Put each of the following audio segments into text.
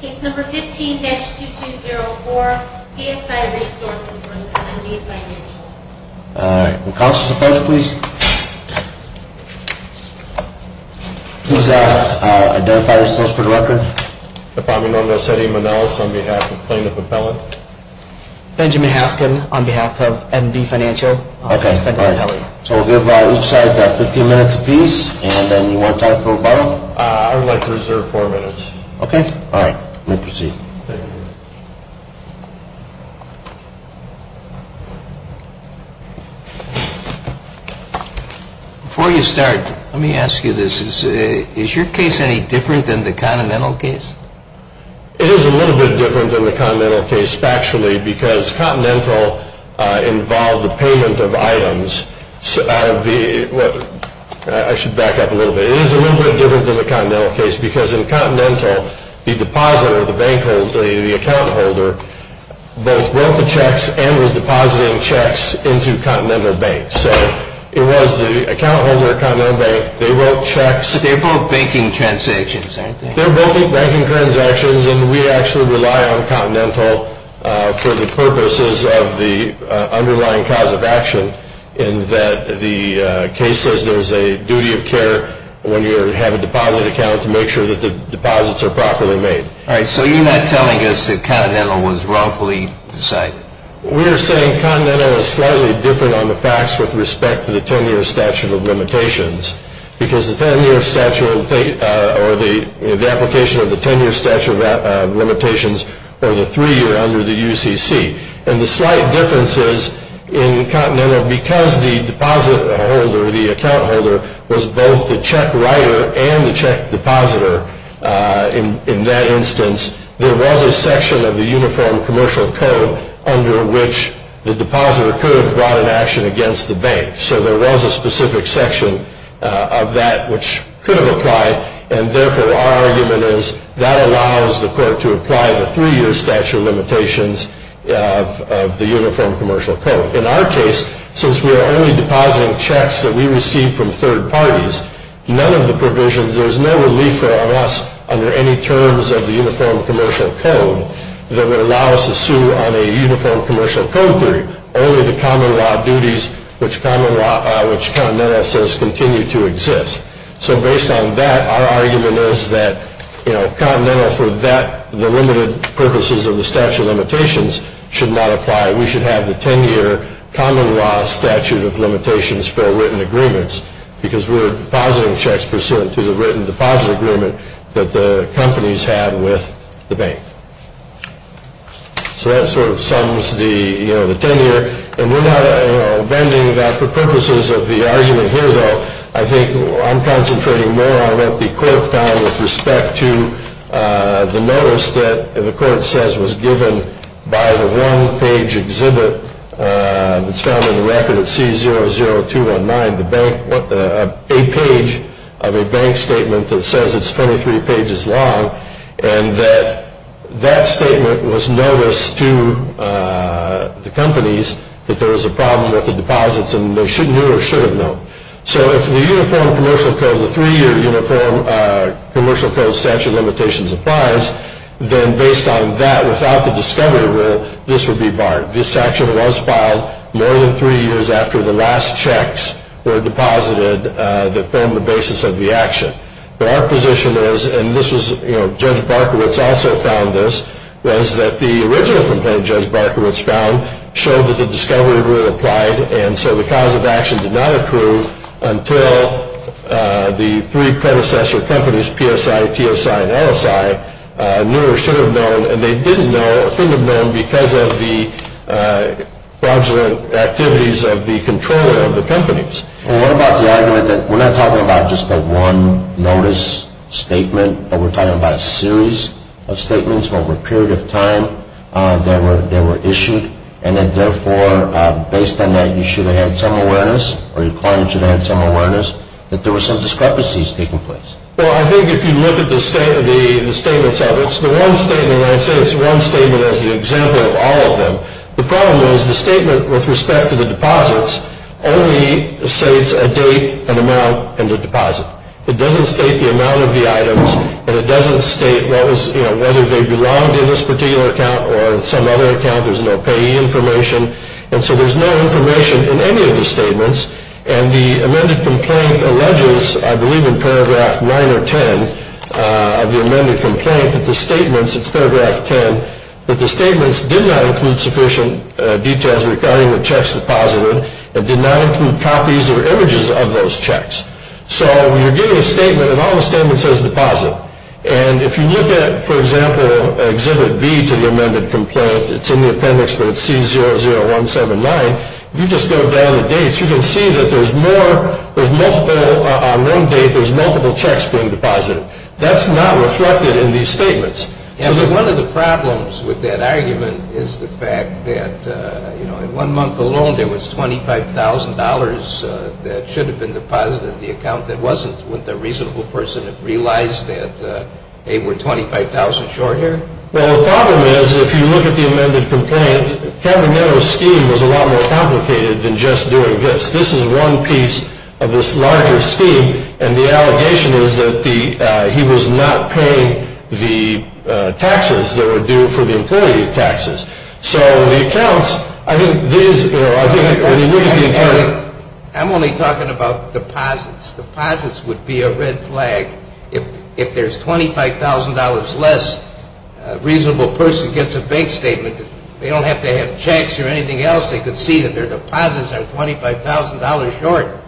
Case No. 15-2204, PSI Resources v. MB Financial Alright, will the counselors approach please? Please identify yourselves for the record. My name is Eddie Manelas on behalf of Plaintiff Appellant. Benjamin Haskin on behalf of MB Financial. Okay, alright. So we'll give each side 15 minutes apiece and then one time for rebuttal. I would like to reserve 4 minutes. Okay? Alright, we'll proceed. Before you start, let me ask you this. Is your case any different than the Continental case? It is a little bit different than the Continental case factually because Continental involved the payment of items. I should back up a little bit. It is a little bit different than the Continental case because in Continental, the depositor, the bank holder, the account holder, both wrote the checks and was depositing checks into Continental Bank. So it was the account holder at Continental Bank. They wrote checks. But they're both banking transactions, aren't they? They're both banking transactions and we actually rely on Continental for the purposes of the underlying cause of action in that the case says there's a duty of care when you have a deposit account to make sure that the deposits are properly made. Alright, so you're not telling us that Continental was wrongfully decided? We're saying Continental is slightly different on the facts with respect to the 10-year statute of limitations because the 10-year statute or the application of the 10-year statute of limitations or the 3-year under the UCC. And the slight difference is in Continental because the deposit holder, the account holder, was both the check writer and the check depositor in that instance, there was a section of the Uniform Commercial Code under which the depositor could have brought an action against the bank. So there was a specific section of that which could have applied. And therefore, our argument is that allows the court to apply the 3-year statute of limitations of the Uniform Commercial Code. In our case, since we are only depositing checks that we receive from third parties, none of the provisions, there's no relief for us under any terms of the Uniform Commercial Code that would allow us to sue on a Uniform Commercial Code theory, only the common law duties which Continental says continue to exist. So based on that, our argument is that, you know, Continental for that, the limited purposes of the statute of limitations should not apply. We should have the 10-year common law statute of limitations for written agreements because we're depositing checks pursuant to the written deposit agreement that the companies have with the bank. So that sort of sums the, you know, the 10-year. And we're not, you know, bending that for purposes of the argument here, though. I think I'm concentrating more on what the court found with respect to the notice that the court says was given by the one-page exhibit that's found in the record at C00219, a page of a bank statement that says it's 23 pages long, and that that statement was noticed to the companies that there was a problem with the deposits and they should have known or should have known. So if the Uniform Commercial Code, the three-year Uniform Commercial Code statute of limitations applies, then based on that, without the discovery rule, this would be barred. This action was filed more than three years after the last checks were deposited that formed the basis of the action. But our position is, and this was, you know, Judge Barkowitz also found this, was that the original complaint Judge Barkowitz found showed that the discovery rule applied and so the cause of action did not approve until the three predecessor companies, PSI, TSI, and LSI, knew or should have known and they didn't know or shouldn't have known because of the fraudulent activities of the controller of the companies. Well, what about the argument that we're not talking about just the one notice statement, but we're talking about a series of statements over a period of time that were issued and that therefore, based on that, you should have had some awareness or your client should have had some awareness that there were some discrepancies taking place? Well, I think if you look at the statements, it's the one statement, and I say it's one statement as an example of all of them. The problem is the statement with respect to the deposits only states a date, an amount, and a deposit. It doesn't state the amount of the items, and it doesn't state what was, you know, whether they belonged in this particular account or some other account. There's no payee information, and so there's no information in any of the statements, and the amended complaint alleges, I believe in paragraph 9 or 10 of the amended complaint, that the statements, it's paragraph 10, that the statements did not include sufficient details regarding the checks deposited and did not include copies or images of those checks. So you're getting a statement, and all the statement says deposit, and if you look at, for example, exhibit B to the amended complaint, it's in the appendix, but it's C00179, if you just go down the dates, you can see that there's more, there's multiple, on one date, there's multiple checks being deposited. That's not reflected in these statements. One of the problems with that argument is the fact that, you know, in one month alone there was $25,000 that should have been deposited in the account that wasn't when the reasonable person had realized that they were $25,000 short here. Well, the problem is if you look at the amended complaint, Kavanaugh's scheme was a lot more complicated than just doing this. This is one piece of this larger scheme, and the allegation is that he was not paying the taxes that were due for the employee taxes. So the accounts, I think these, you know, I think when you look at the accounting. I'm only talking about deposits. Deposits would be a red flag. If there's $25,000 less, a reasonable person gets a bank statement. They don't have to have checks or anything else. They could see that their deposits are $25,000 short.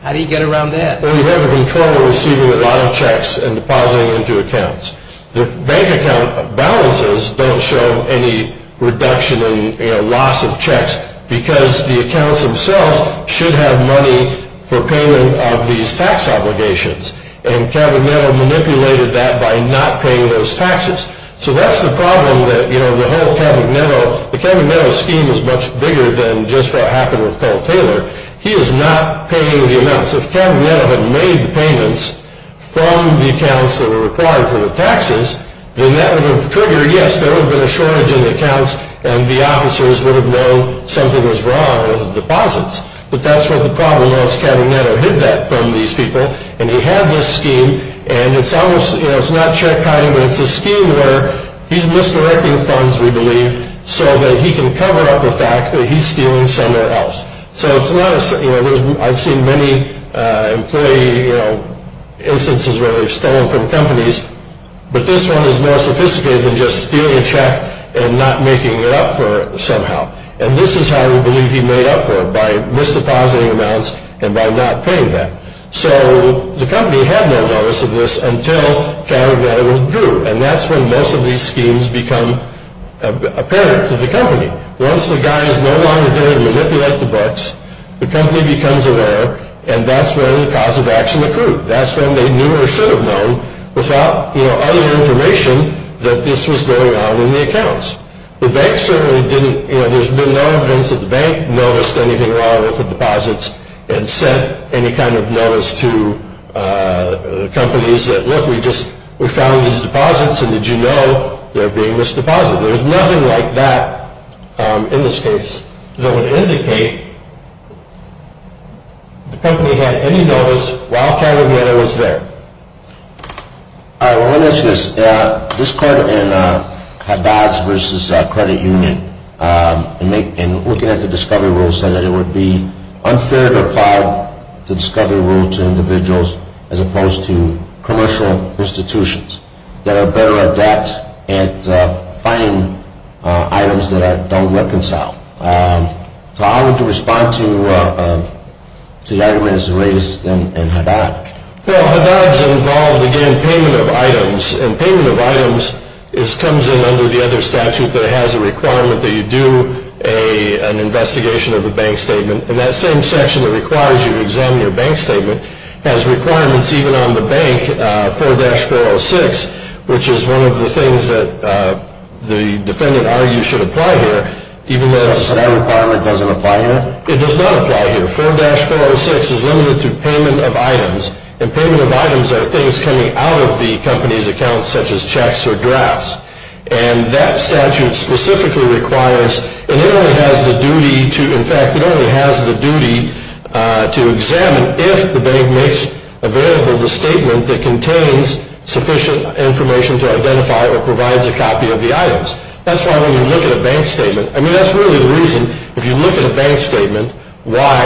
How do you get around that? Well, you have a controller receiving a lot of checks and depositing them into accounts. The bank account balances don't show any reduction in loss of checks because the accounts themselves should have money for payment of these tax obligations, and Kavanaugh manipulated that by not paying those taxes. So that's the problem that, you know, the whole Kavanaugh, the Kavanaugh scheme is much bigger than just what happened with Paul Taylor. He is not paying the amounts. If Kavanaugh had made the payments from the accounts that were required for the taxes, then that would have triggered, yes, there would have been a shortage in the accounts, and the officers would have known something was wrong with the deposits. But that's what the problem was. Kavanaugh hid that from these people, and he had this scheme, and it's almost, you know, it's not check hiding, it's a scheme where he's misdirecting funds, we believe, so that he can cover up the fact that he's stealing somewhere else. So it's not, you know, I've seen many employee instances where they've stolen from companies, but this one is more sophisticated than just stealing a check and not making it up for it somehow. And this is how we believe he made up for it, by misdepositing amounts and by not paying them. So the company had no notice of this until Kavanaugh withdrew, and that's when most of these schemes become apparent to the company. Once the guys no longer dare manipulate the books, the company becomes aware, and that's when the cause of action occurred. That's when they knew or should have known without, you know, other information that this was going on in the accounts. The bank certainly didn't, you know, there's been no evidence that the bank noticed anything wrong and sent any kind of notice to companies that, look, we found these deposits and did you know they're being misdeposited. There's nothing like that in this case that would indicate the company had any notice while Kavanaugh was there. All right, well, let me ask you this. This part in Haddad's versus credit union, in looking at the discovery rules, said that it would be unfair to apply the discovery rule to individuals as opposed to commercial institutions that are better adept at finding items that don't reconcile. So how would you respond to the argument that's raised in Haddad? Well, Haddad's involved, again, payment of items. And payment of items comes in under the other statute that has a requirement that you do an investigation of a bank statement. And that same section that requires you to examine your bank statement has requirements, even on the bank, 4-406, which is one of the things that the defendant argues should apply here, even though that requirement doesn't apply here. It does not apply here. 4-406 is limited to payment of items. And payment of items are things coming out of the company's account, such as checks or drafts. And that statute specifically requires, and it only has the duty to, in fact, it only has the duty to examine if the bank makes available the statement that contains sufficient information to identify or provides a copy of the items. That's why when you look at a bank statement, I mean, that's really the reason, if you look at a bank statement, why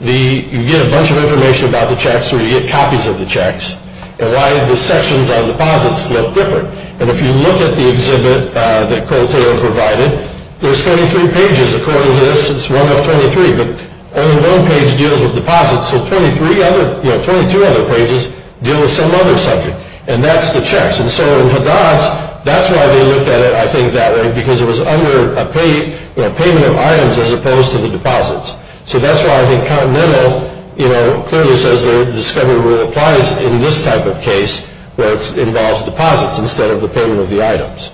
you get a bunch of information about the checks or you get copies of the checks, and why the sections on deposits look different. And if you look at the exhibit that Cole Taylor provided, there's 43 pages according to this. It's one of 23. But only one page deals with deposits, so 23 other, you know, 22 other pages deal with some other subject. And that's the checks. And so in Haddad's, that's why they looked at it, I think, that way, because it was under a payment of items as opposed to the deposits. So that's why I think Continental, you know, clearly says the discovery rule applies in this type of case where it involves deposits instead of the payment of the items.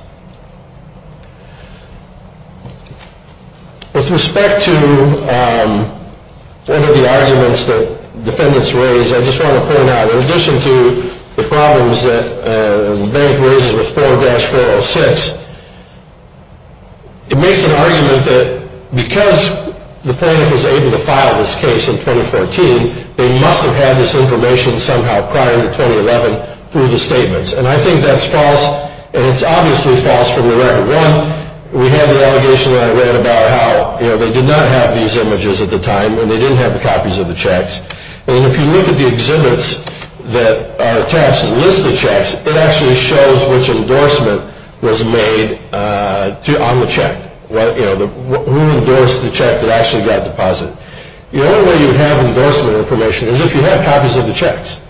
With respect to one of the arguments that defendants raised, I just want to point out, in addition to the problems that the bank raises with 4-406, it makes an argument that because the plaintiff was able to file this case in 2014, they must have had this information somehow prior to 2011 through the statements. And I think that's false, and it's obviously false from the record. One, we have the allegation that I read about how, you know, they did not have these images at the time, and they didn't have the copies of the checks. And if you look at the exhibits that are attached and list the checks, it actually shows which endorsement was made on the check, you know, who endorsed the check that actually got deposited. The only way you have endorsement information is if you have copies of the checks.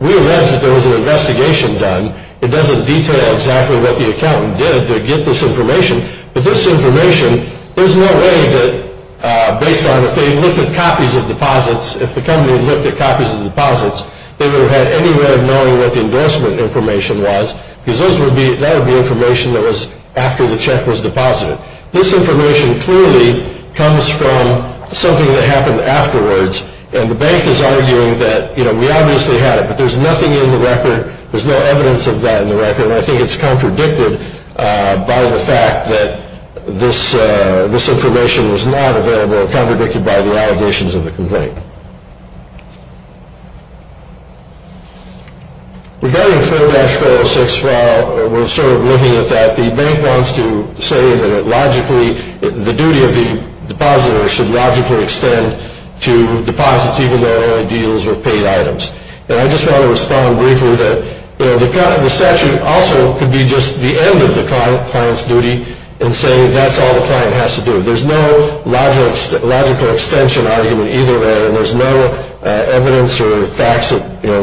We allege that there was an investigation done. It doesn't detail exactly what the accountant did to get this information, but this information, there's no way that based on if they looked at copies of deposits, if the company looked at copies of deposits, they would have had any way of knowing what the endorsement information was, because that would be information that was after the check was deposited. This information clearly comes from something that happened afterwards, and the bank is arguing that, you know, we obviously had it, but there's nothing in the record, there's no evidence of that in the record, and I think it's contradicted by the fact that this information was not available and contradicted by the allegations of the complaint. Regarding 4-406, while we're sort of looking at that, the bank wants to say that logically the duty of the depositor should logically extend to deposits, even though they're only deals with paid items. And I just want to respond briefly that, you know, the statute also could be just the end of the client's duty in saying that's all the client has to do. There's no logical extension argument either, and there's no evidence or facts that, you know,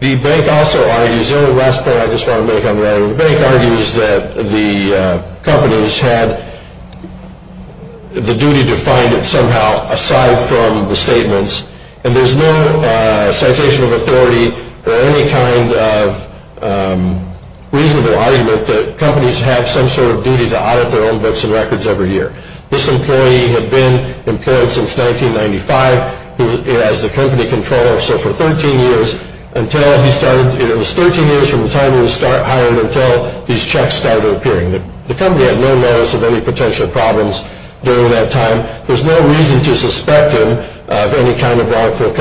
The bank also argues, the only last point I just want to make on that, the bank argues that the companies had the duty to find it somehow aside from the statements, and there's no citation of authority or any kind of reasonable argument that companies have some sort of duty to audit their own books and records every year. This employee had been employed since 1995 as the company controller, so for 13 years until he started, it was 13 years from the time he was hired until these checks started appearing. The company had no notice of any potential problems during that time. There's no reason to suspect him of any kind of wrongful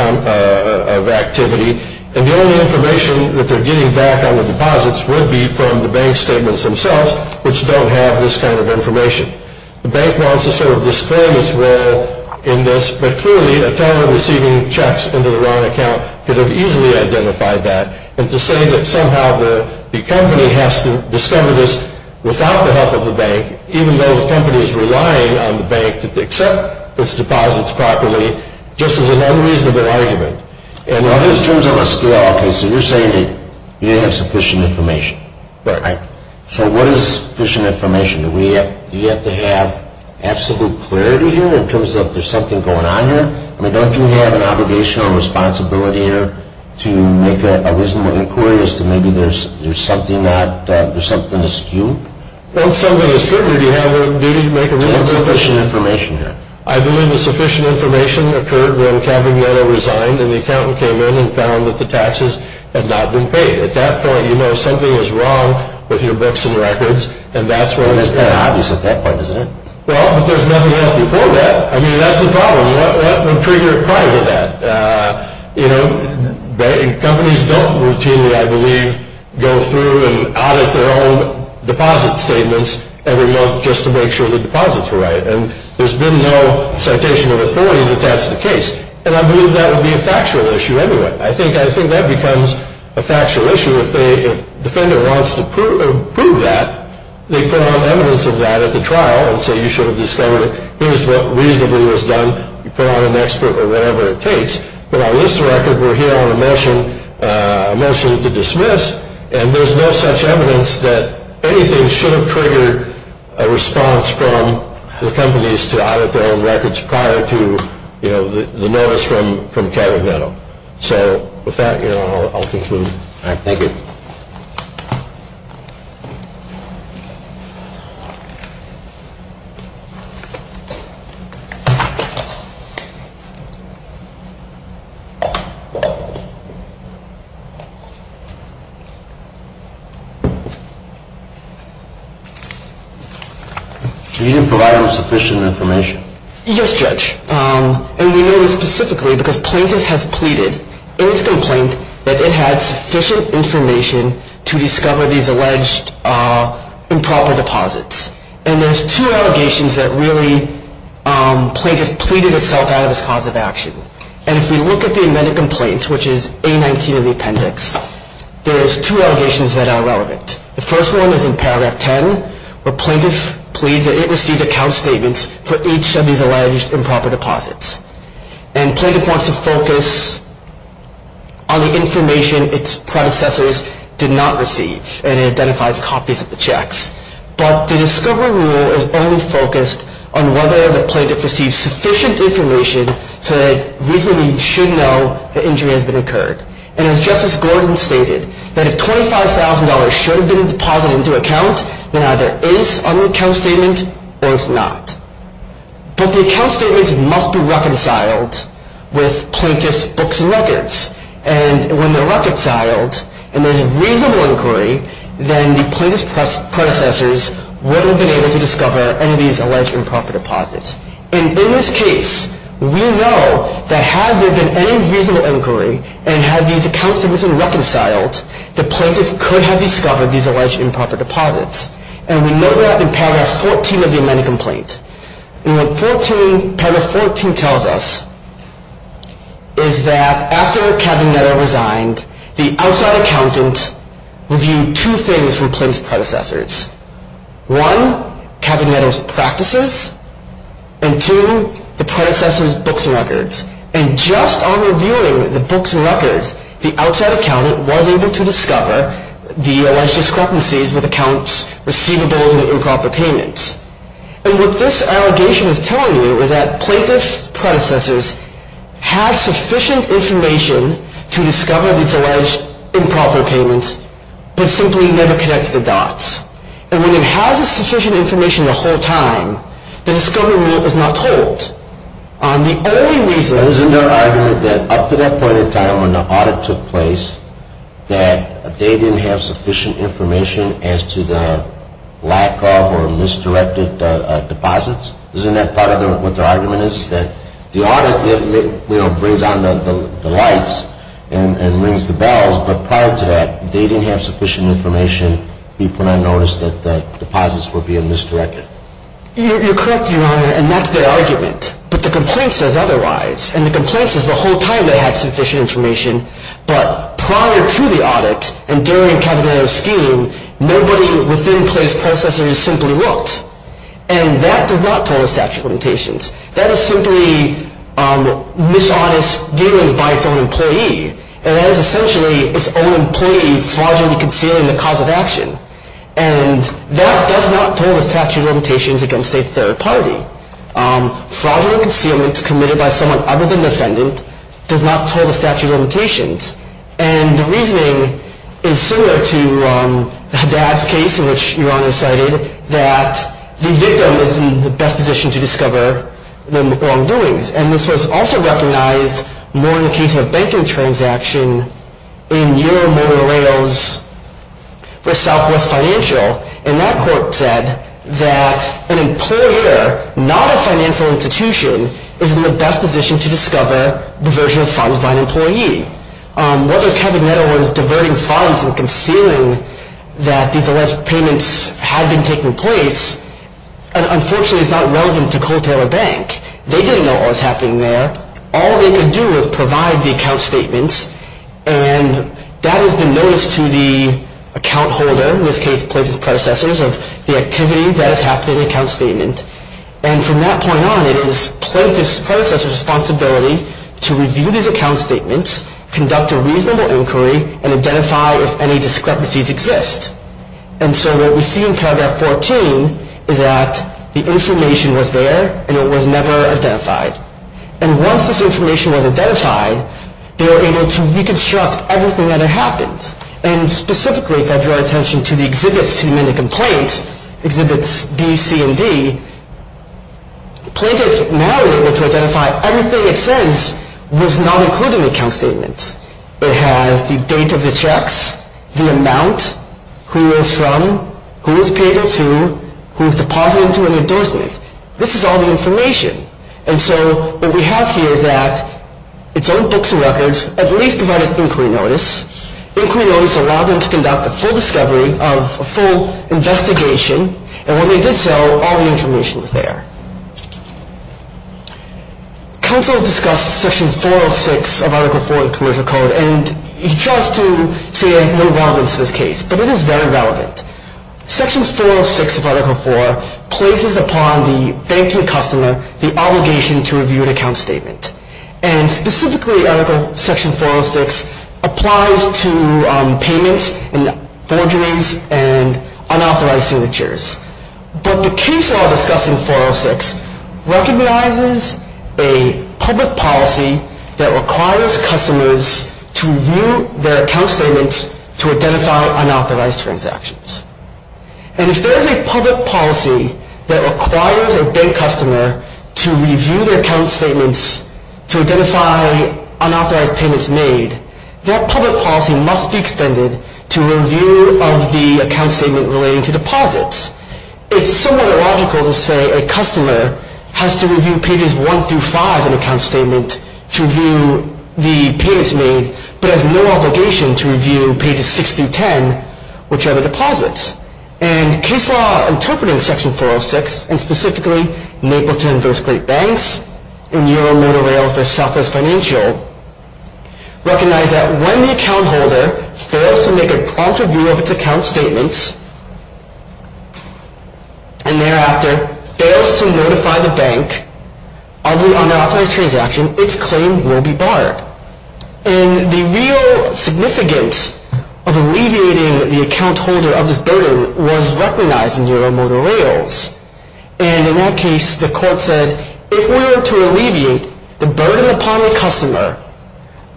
activity, and the only information that they're getting back on the deposits would be from the bank statements themselves, which don't have this kind of information. The bank wants to sort of disclaim its role in this, but clearly a teller receiving checks into the wrong account could have easily identified that, and to say that somehow the company has to discover this without the help of the bank, even though the company is relying on the bank to accept its deposits properly, just is an unreasonable argument. In terms of a scale, you're saying that you didn't have sufficient information. Right. So what is sufficient information? Do you have to have absolute clarity here in terms of there's something going on here? I mean, don't you have an obligation or responsibility here to make a reasonable inquiry as to maybe there's something that, there's something askew? Once something is figured, you have a duty to make a reasonable inquiry. So what's sufficient information here? I believe the sufficient information occurred when Caballero resigned and the accountant came in and found that the taxes had not been paid. At that point, you know something is wrong with your books and records, and that's what is there. Well, it's kind of obvious at that point, isn't it? Well, but there's nothing else before that. I mean, that's the problem. What triggered it prior to that? You know, companies don't routinely, I believe, go through and audit their own deposit statements every month just to make sure the deposits were right, and there's been no citation of authority that that's the case, and I believe that would be a factual issue anyway. I think that becomes a factual issue if the defendant wants to prove that, they put on evidence of that at the trial and say, you should have discovered it, here's what reasonably was done, you put on an expert or whatever it takes. But on this record, we're here on a motion to dismiss, and there's no such evidence that anything should have triggered a response from the companies to audit their own records prior to, you know, the notice from Caballero. So with that, you know, I'll conclude. All right. Thank you. You didn't provide enough sufficient information. Yes, Judge. And we know this specifically because plaintiff has pleaded in his complaint that it had sufficient information to discover these alleged improper deposits, and there's two allegations that really plaintiff pleaded itself out of this cause of action. And if we look at the amended complaint, which is A-19 of the appendix, there's two allegations that are relevant. The first one is in paragraph 10, where plaintiff pleads that it received account statements for each of these alleged improper deposits. And plaintiff wants to focus on the information its predecessors did not receive, and it identifies copies of the checks. But the discovery rule is only focused on whether the plaintiff received sufficient information so that it reasonably should know the injury has been incurred. And as Justice Gordon stated, that if $25,000 should have been deposited into account, then either it is on the account statement or it's not. But the account statements must be reconciled with plaintiff's books and records. And when they're reconciled and there's a reasonable inquiry, then the plaintiff's predecessors would have been able to discover any of these alleged improper deposits. And in this case, we know that had there been any reasonable inquiry and had these account statements been reconciled, the plaintiff could have discovered these alleged improper deposits. And we know that in paragraph 14 of the amended complaint. And what paragraph 14 tells us is that after Cavanetto resigned, the outside accountant reviewed two things from plaintiff's predecessors. One, Cavanetto's practices, and two, the predecessor's books and records. And just on reviewing the books and records, the outside accountant was able to discover the alleged discrepancies with accounts receivables and improper payments. And what this allegation is telling you is that plaintiff's predecessors had sufficient information to discover these alleged improper payments but simply never connected the dots. And when it has the sufficient information the whole time, the discovery was not told. No, and we know that in this case, the only reason that the plaintiff's predecessors were successful at their work was because of their lack of sufficient information on the only reason. Isn't there an argument that up to that point in time when the audit took place that they didn't have sufficient information as to the lack of or misdirected deposits? Isn't that part of what their argument is, that the audit brings on the lights and rings the bells, but prior to that, if they didn't have sufficient information, people would not notice that the deposits were being misdirected? You're correct, Your Honor, and that's their argument. But the complaint says otherwise, and the complaint says the whole time they had sufficient information, but prior to the audit and during Kavanaugh's scheme, nobody within the plaintiff's predecessors simply looked, and that does not tell us to have supplementations. That is simply dishonest dealings by its own employee, and that is essentially its own employee fraudulently concealing the cause of action, and that does not tell us to have supplementations against a third party. Fraudulent concealment committed by someone other than the defendant does not tell us to have supplementations, and the reasoning is similar to Haddad's case in which Your Honor cited that the victim is in the best position to discover the wrongdoings, and this was also recognized more in the case of a banking transaction in EuroMotorRails for Southwest Financial, and that court said that an employer, not a financial institution, is in the best position to discover the version of funds by an employee. Whether Kavanaugh was diverting funds and concealing that these alleged payments had been taking place, unfortunately is not relevant to Colt Taylor Bank. They didn't know what was happening there. All they could do was provide the account statements, and that is the notice to the account holder, in this case plaintiff's predecessors, of the activity that has happened in the account statement, and from that point on, it is plaintiff's predecessors' responsibility to review these account statements, conduct a reasonable inquiry, and identify if any discrepancies exist, and so what we see in paragraph 14 is that the information was there, and it was never identified, and once this information was identified, they were able to reconstruct everything that had happened, and specifically if I draw attention to the exhibits to the amended complaint, exhibits B, C, and D, plaintiff is now able to identify everything it says was not included in the account statement. It has the date of the checks, the amount, who it was from, who it was paid to, who it was deposited to, and endorsement. This is all the information, and so what we have here is that it's own books and records at least provided inquiry notice. Inquiry notice allowed them to conduct a full discovery of a full investigation, and when they did so, all the information was there. Counsel discussed Section 406 of Article 4 of the Commercial Code, and he tries to say there's no relevance to this case, but it is very relevant. Section 406 of Article 4 places upon the banking customer the obligation to review an account statement, and specifically Article Section 406 applies to payments, and forgeries, and unauthorized signatures, but the case law discussing 406 recognizes a public policy that requires customers to review their account statements to identify unauthorized transactions, and if there is a public policy that requires a bank customer to review their account statements to identify unauthorized payments made, that public policy must be extended to review of the account statement relating to deposits. It's somewhat illogical to say a customer has to review pages 1 through 5 of an account statement to review the payments made, but has no obligation to review pages 6 through 10, which are the deposits, and case law interpreting Section 406, and specifically Mapleton v. Great Banks, and EuroMotorRails v. Southwest Financial, recognize that when the account holder fails to make a prompt review of its account statements, and thereafter fails to notify the bank of the unauthorized transaction, its claim will be barred. And the real significance of alleviating the account holder of this burden was recognized in EuroMotorRails, and in that case the court said, if we were to alleviate the burden upon the customer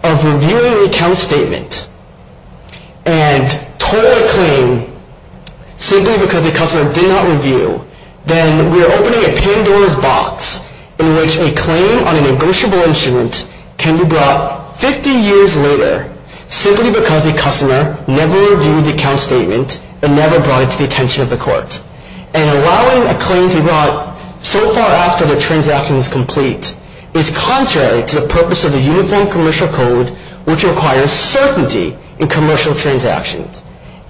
of reviewing the account statement, and tore a claim simply because the customer did not review, then we are opening a Pandora's box in which a claim on a negotiable instrument can be brought 50 years later simply because the customer never reviewed the account statement and never brought it to the attention of the court. And allowing a claim to be brought so far after the transaction is complete is contrary to the purpose of the Uniform Commercial Code, which requires certainty in commercial transactions.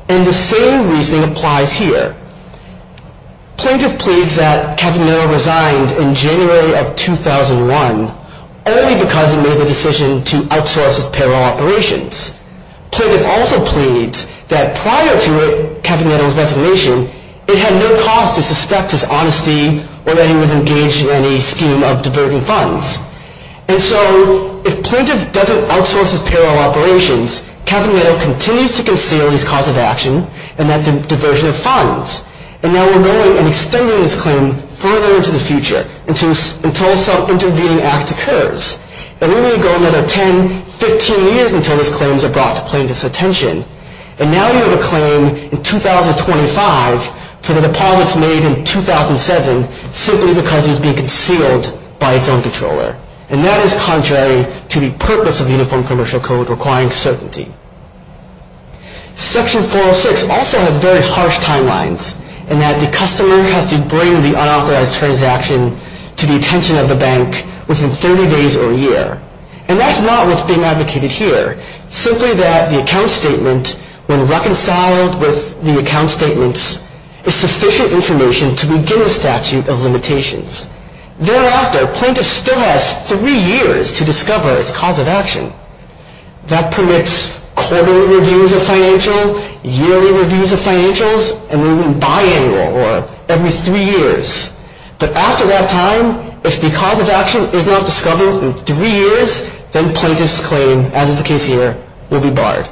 And the same reasoning applies here. Plaintiff pleads that Capimino resigned in January of 2001 only because he made the decision to outsource his payroll operations. Plaintiff also pleads that prior to Capimino's resignation, it had no cause to suspect his honesty or that he was engaged in any scheme of diverting funds. And so if Plaintiff doesn't outsource his payroll operations, Capimino continues to conceal his cause of action and that diversion of funds. And now we're going and extending this claim further into the future until some intervening act occurs. And we may go another 10, 15 years until this claim is brought to Plaintiff's attention. And now you have a claim in 2025 for the deposits made in 2007 simply because it was being concealed by its own controller. And that is contrary to the purpose of Uniform Commercial Code requiring certainty. Section 406 also has very harsh timelines in that the customer has to bring the unauthorized transaction to the attention of the bank within 30 days or a year. And that's not what's being advocated here. Simply that the account statement, when reconciled with the account statements, is sufficient information to begin the statute of limitations. Thereafter, Plaintiff still has three years to discover its cause of action. That permits quarterly reviews of financials, yearly reviews of financials, and even biannual, or every three years. But after that time, if the cause of action is not discovered in three years, then Plaintiff's claim, as is the case here, will be barred.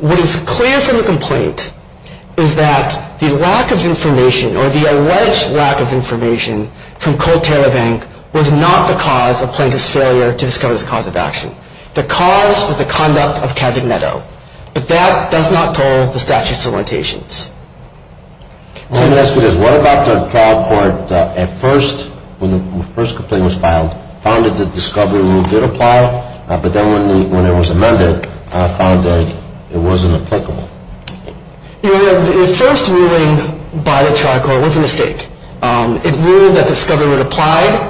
What is clear from the complaint is that the lack of information, or the alleged lack of information, from Colterra Bank was not the cause of Plaintiff's failure to discover its cause of action. The cause was the conduct of Cabinetto. But that does not toll the statute of limitations. I want to ask you this. What about the trial court at first, when the first complaint was filed, found it to discover a little bit of ploy, but then when it was amended, found that it wasn't applicable? The first ruling by the trial court was a mistake. It ruled that discovery would apply,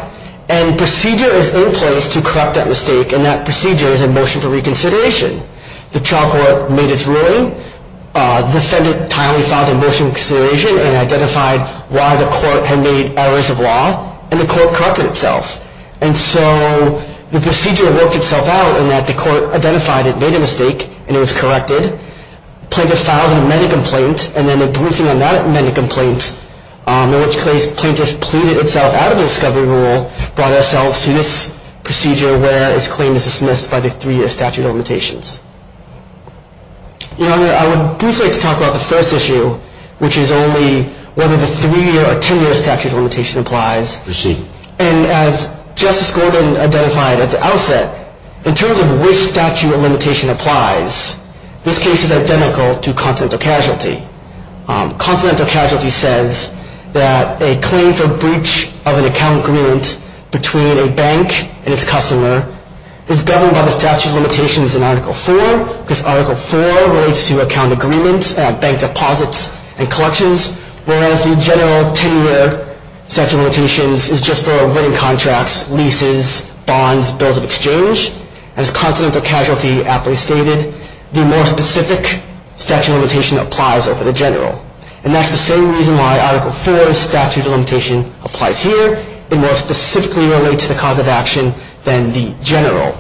and procedure is in place to correct that mistake, and that procedure is a motion for reconsideration. The trial court made its ruling, the defendant timely filed a motion for reconsideration, and identified why the court had made errors of law, and the court corrected itself. And so the procedure worked itself out, in that the court identified it made a mistake, and it was corrected. Plaintiff filed an amended complaint, and then the briefing on that amended complaint, in which case Plaintiff pleaded itself out of the discovery rule, brought ourselves to this procedure, where its claim is dismissed by the three-year statute of limitations. Your Honor, I would briefly like to talk about the first issue, which is only whether the three-year or ten-year statute of limitations applies. Proceed. And as Justice Corbin identified at the outset, in terms of which statute of limitation applies, this case is identical to continental casualty. Continental casualty says that a claim for breach of an account agreement between a bank and its customer is governed by the statute of limitations in Article IV, because Article IV relates to account agreements and bank deposits and collections, whereas the general ten-year statute of limitations is just for writing contracts, leases, bonds, bills of exchange. As continental casualty aptly stated, the more specific statute of limitation applies over the general. And that's the same reason why Article IV's statute of limitation applies here. It more specifically relates to the cause of action than the general.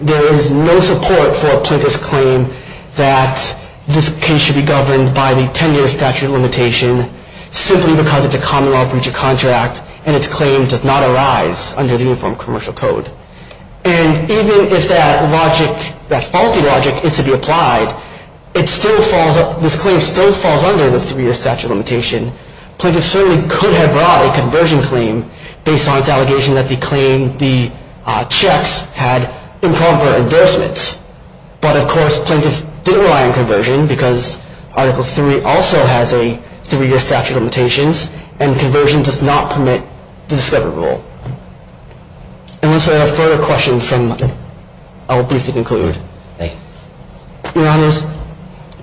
There is no support for Plaintiff's claim that this case should be governed by the ten-year statute of limitation simply because it's a common law breach of contract and its claim does not arise under the Uniform Commercial Code. And even if that logic, that faulty logic, is to be applied, this claim still falls under the three-year statute of limitation. Plaintiff certainly could have brought a conversion claim based on its allegation that the claim, the checks, had improper endorsements. But, of course, Plaintiff didn't rely on conversion because Article III also has a three-year statute of limitations and conversion does not permit the discovery rule. Unless there are further questions, I will briefly conclude. Thank you. Your Honors,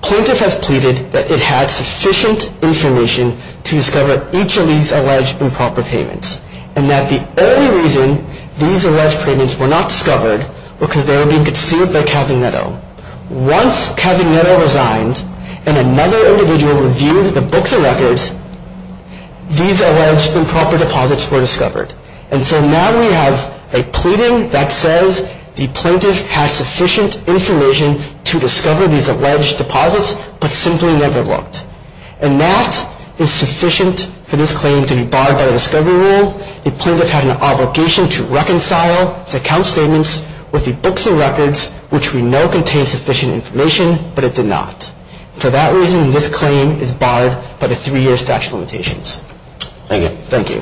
Plaintiff has pleaded that it had sufficient information to discover each of these alleged improper payments and that the only reason these alleged payments were not discovered was because they were being conceived by Calvin Netto. Once Calvin Netto resigned and another individual reviewed the books and records, these alleged improper deposits were discovered. And so now we have a pleading that says the Plaintiff had sufficient information to discover these alleged deposits but simply never looked. And that is sufficient for this claim to be barred by the discovery rule. In addition, the Plaintiff had an obligation to reconcile its account statements with the books and records, which we know contain sufficient information, but it did not. For that reason, this claim is barred by the three-year statute of limitations. Thank you. Thank you.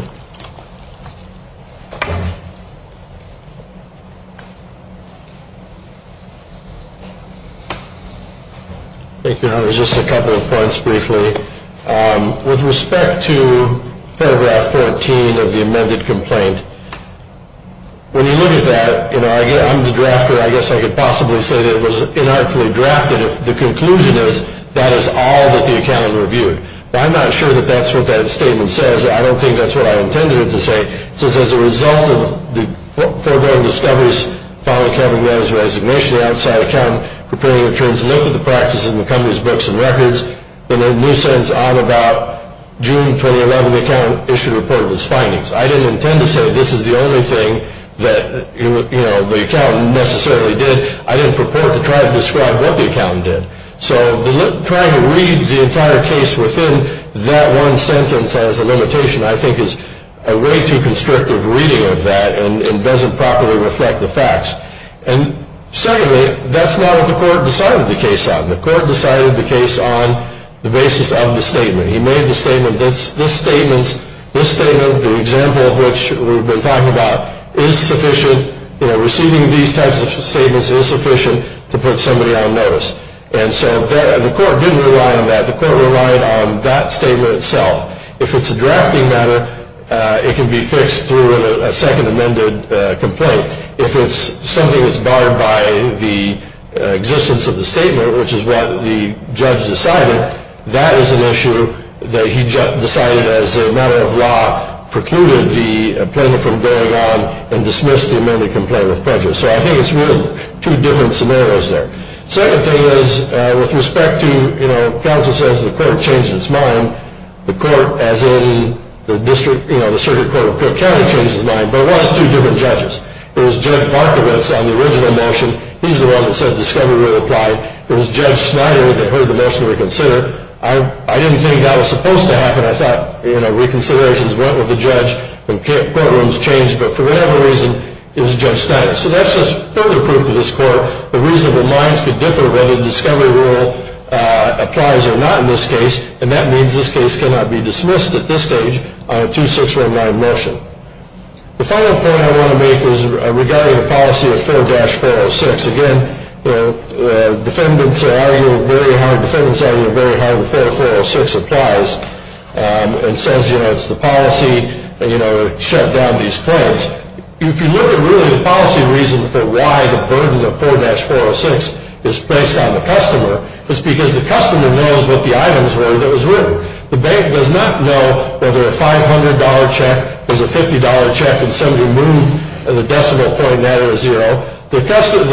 Thank you, Your Honors. Just a couple of points briefly. With respect to paragraph 14 of the amended complaint, when you look at that, I'm the drafter. I guess I could possibly say that it was inarticulately drafted if the conclusion is that is all that the accountant reviewed. But I'm not sure that that's what that statement says. I don't think that's what I intended it to say. It says, as a result of the foreboding discoveries following Calvin Netto's resignation, the outside accountant prepared to look at the practices in the company's books and records in a nuisance on about June 2011, the accountant issued a report of his findings. I didn't intend to say this is the only thing that the accountant necessarily did. I didn't purport to try to describe what the accountant did. So trying to read the entire case within that one sentence as a limitation, I think, is a way too constrictive reading of that and doesn't properly reflect the facts. And secondly, that's not what the court decided the case on. The court decided the case on the basis of the statement. He made the statement, this statement, the example of which we've been talking about, is sufficient. Receiving these types of statements is sufficient to put somebody on notice. And so the court didn't rely on that. The court relied on that statement itself. If it's a drafting matter, it can be fixed through a second amended complaint. If it's something that's barred by the existence of the statement, which is what the judge decided, that is an issue that he decided as a matter of law precluded the plaintiff from going on and dismissed the amended complaint with prejudice. So I think it's really two different scenarios there. Second thing is with respect to, you know, counsel says the court changed its mind, the court as in the district, you know, the circuit court of Cook County changed its mind, but it was two different judges. It was Judge Markovitz on the original motion. He's the one that said discovery rule applied. It was Judge Snyder that heard the motion reconsider. I didn't think that was supposed to happen. I thought, you know, reconsiderations went with the judge and courtrooms changed. But for whatever reason, it was Judge Snyder. So that's just further proof to this court that reasonable minds could differ whether the discovery rule applies or not in this case, and that means this case cannot be dismissed at this stage on a 2619 motion. The final point I want to make is regarding the policy of 4-406. Again, defendants argue very hard. Defendants argue very hard that 4-406 applies and says, you know, it's the policy, you know, to shut down these claims. If you look at really the policy reason for why the burden of 4-406 is placed on the customer, it's because the customer knows what the items were that was written. The bank does not know whether a $500 check is a $50 check and somebody moved the decimal point down to zero. The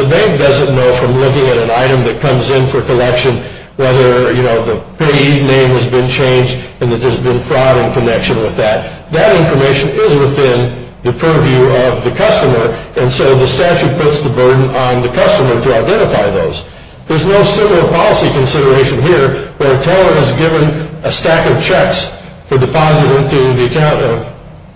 bank doesn't know from looking at an item that comes in for collection whether, you know, the payee name has been changed and that there's been fraud in connection with that. That information is within the purview of the customer, and so the statute puts the burden on the customer to identify those. There's no similar policy consideration here where Taylor has given a stack of checks for deposit into the account of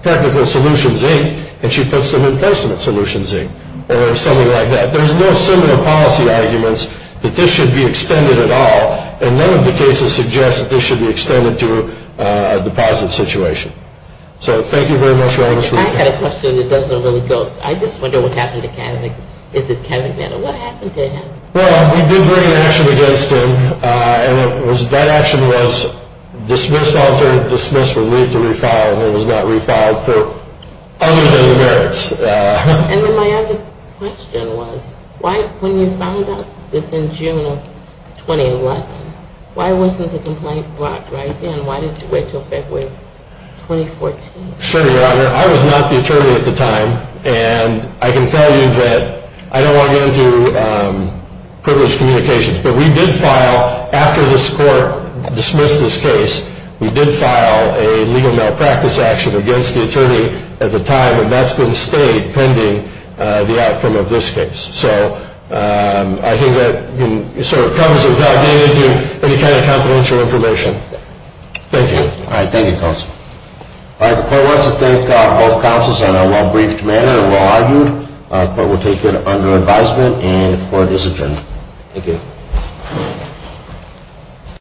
Technical Solutions, Inc., and she puts them in Placement Solutions, Inc., or something like that. There's no similar policy arguments that this should be extended at all, and none of the cases suggest that this should be extended to a deposit situation. So thank you very much for your time. I had a question that doesn't really go. I just wonder what happened to Kevin. Is it Kevin? What happened to him? Well, we did bring an action against him, and that action was dismissed, altered, dismissed, removed to refile, and it was not refiled for other than the merits. And then my other question was, when you filed this in June of 2011, why wasn't the complaint brought right then? Why did you wait until February of 2014? Sure, Your Honor. I was not the attorney at the time, and I can tell you that I don't want to get into privileged communications, but we did file, after this court dismissed this case, we did file a legal malpractice action against the attorney at the time, and that's been stayed pending the outcome of this case. So I think that sort of comes without getting into any kind of confidential information. Thank you. All right. The court wants to thank both counsels in a well-briefed manner and well-argued. The court will take it under advisement, and the court is adjourned. Thank you.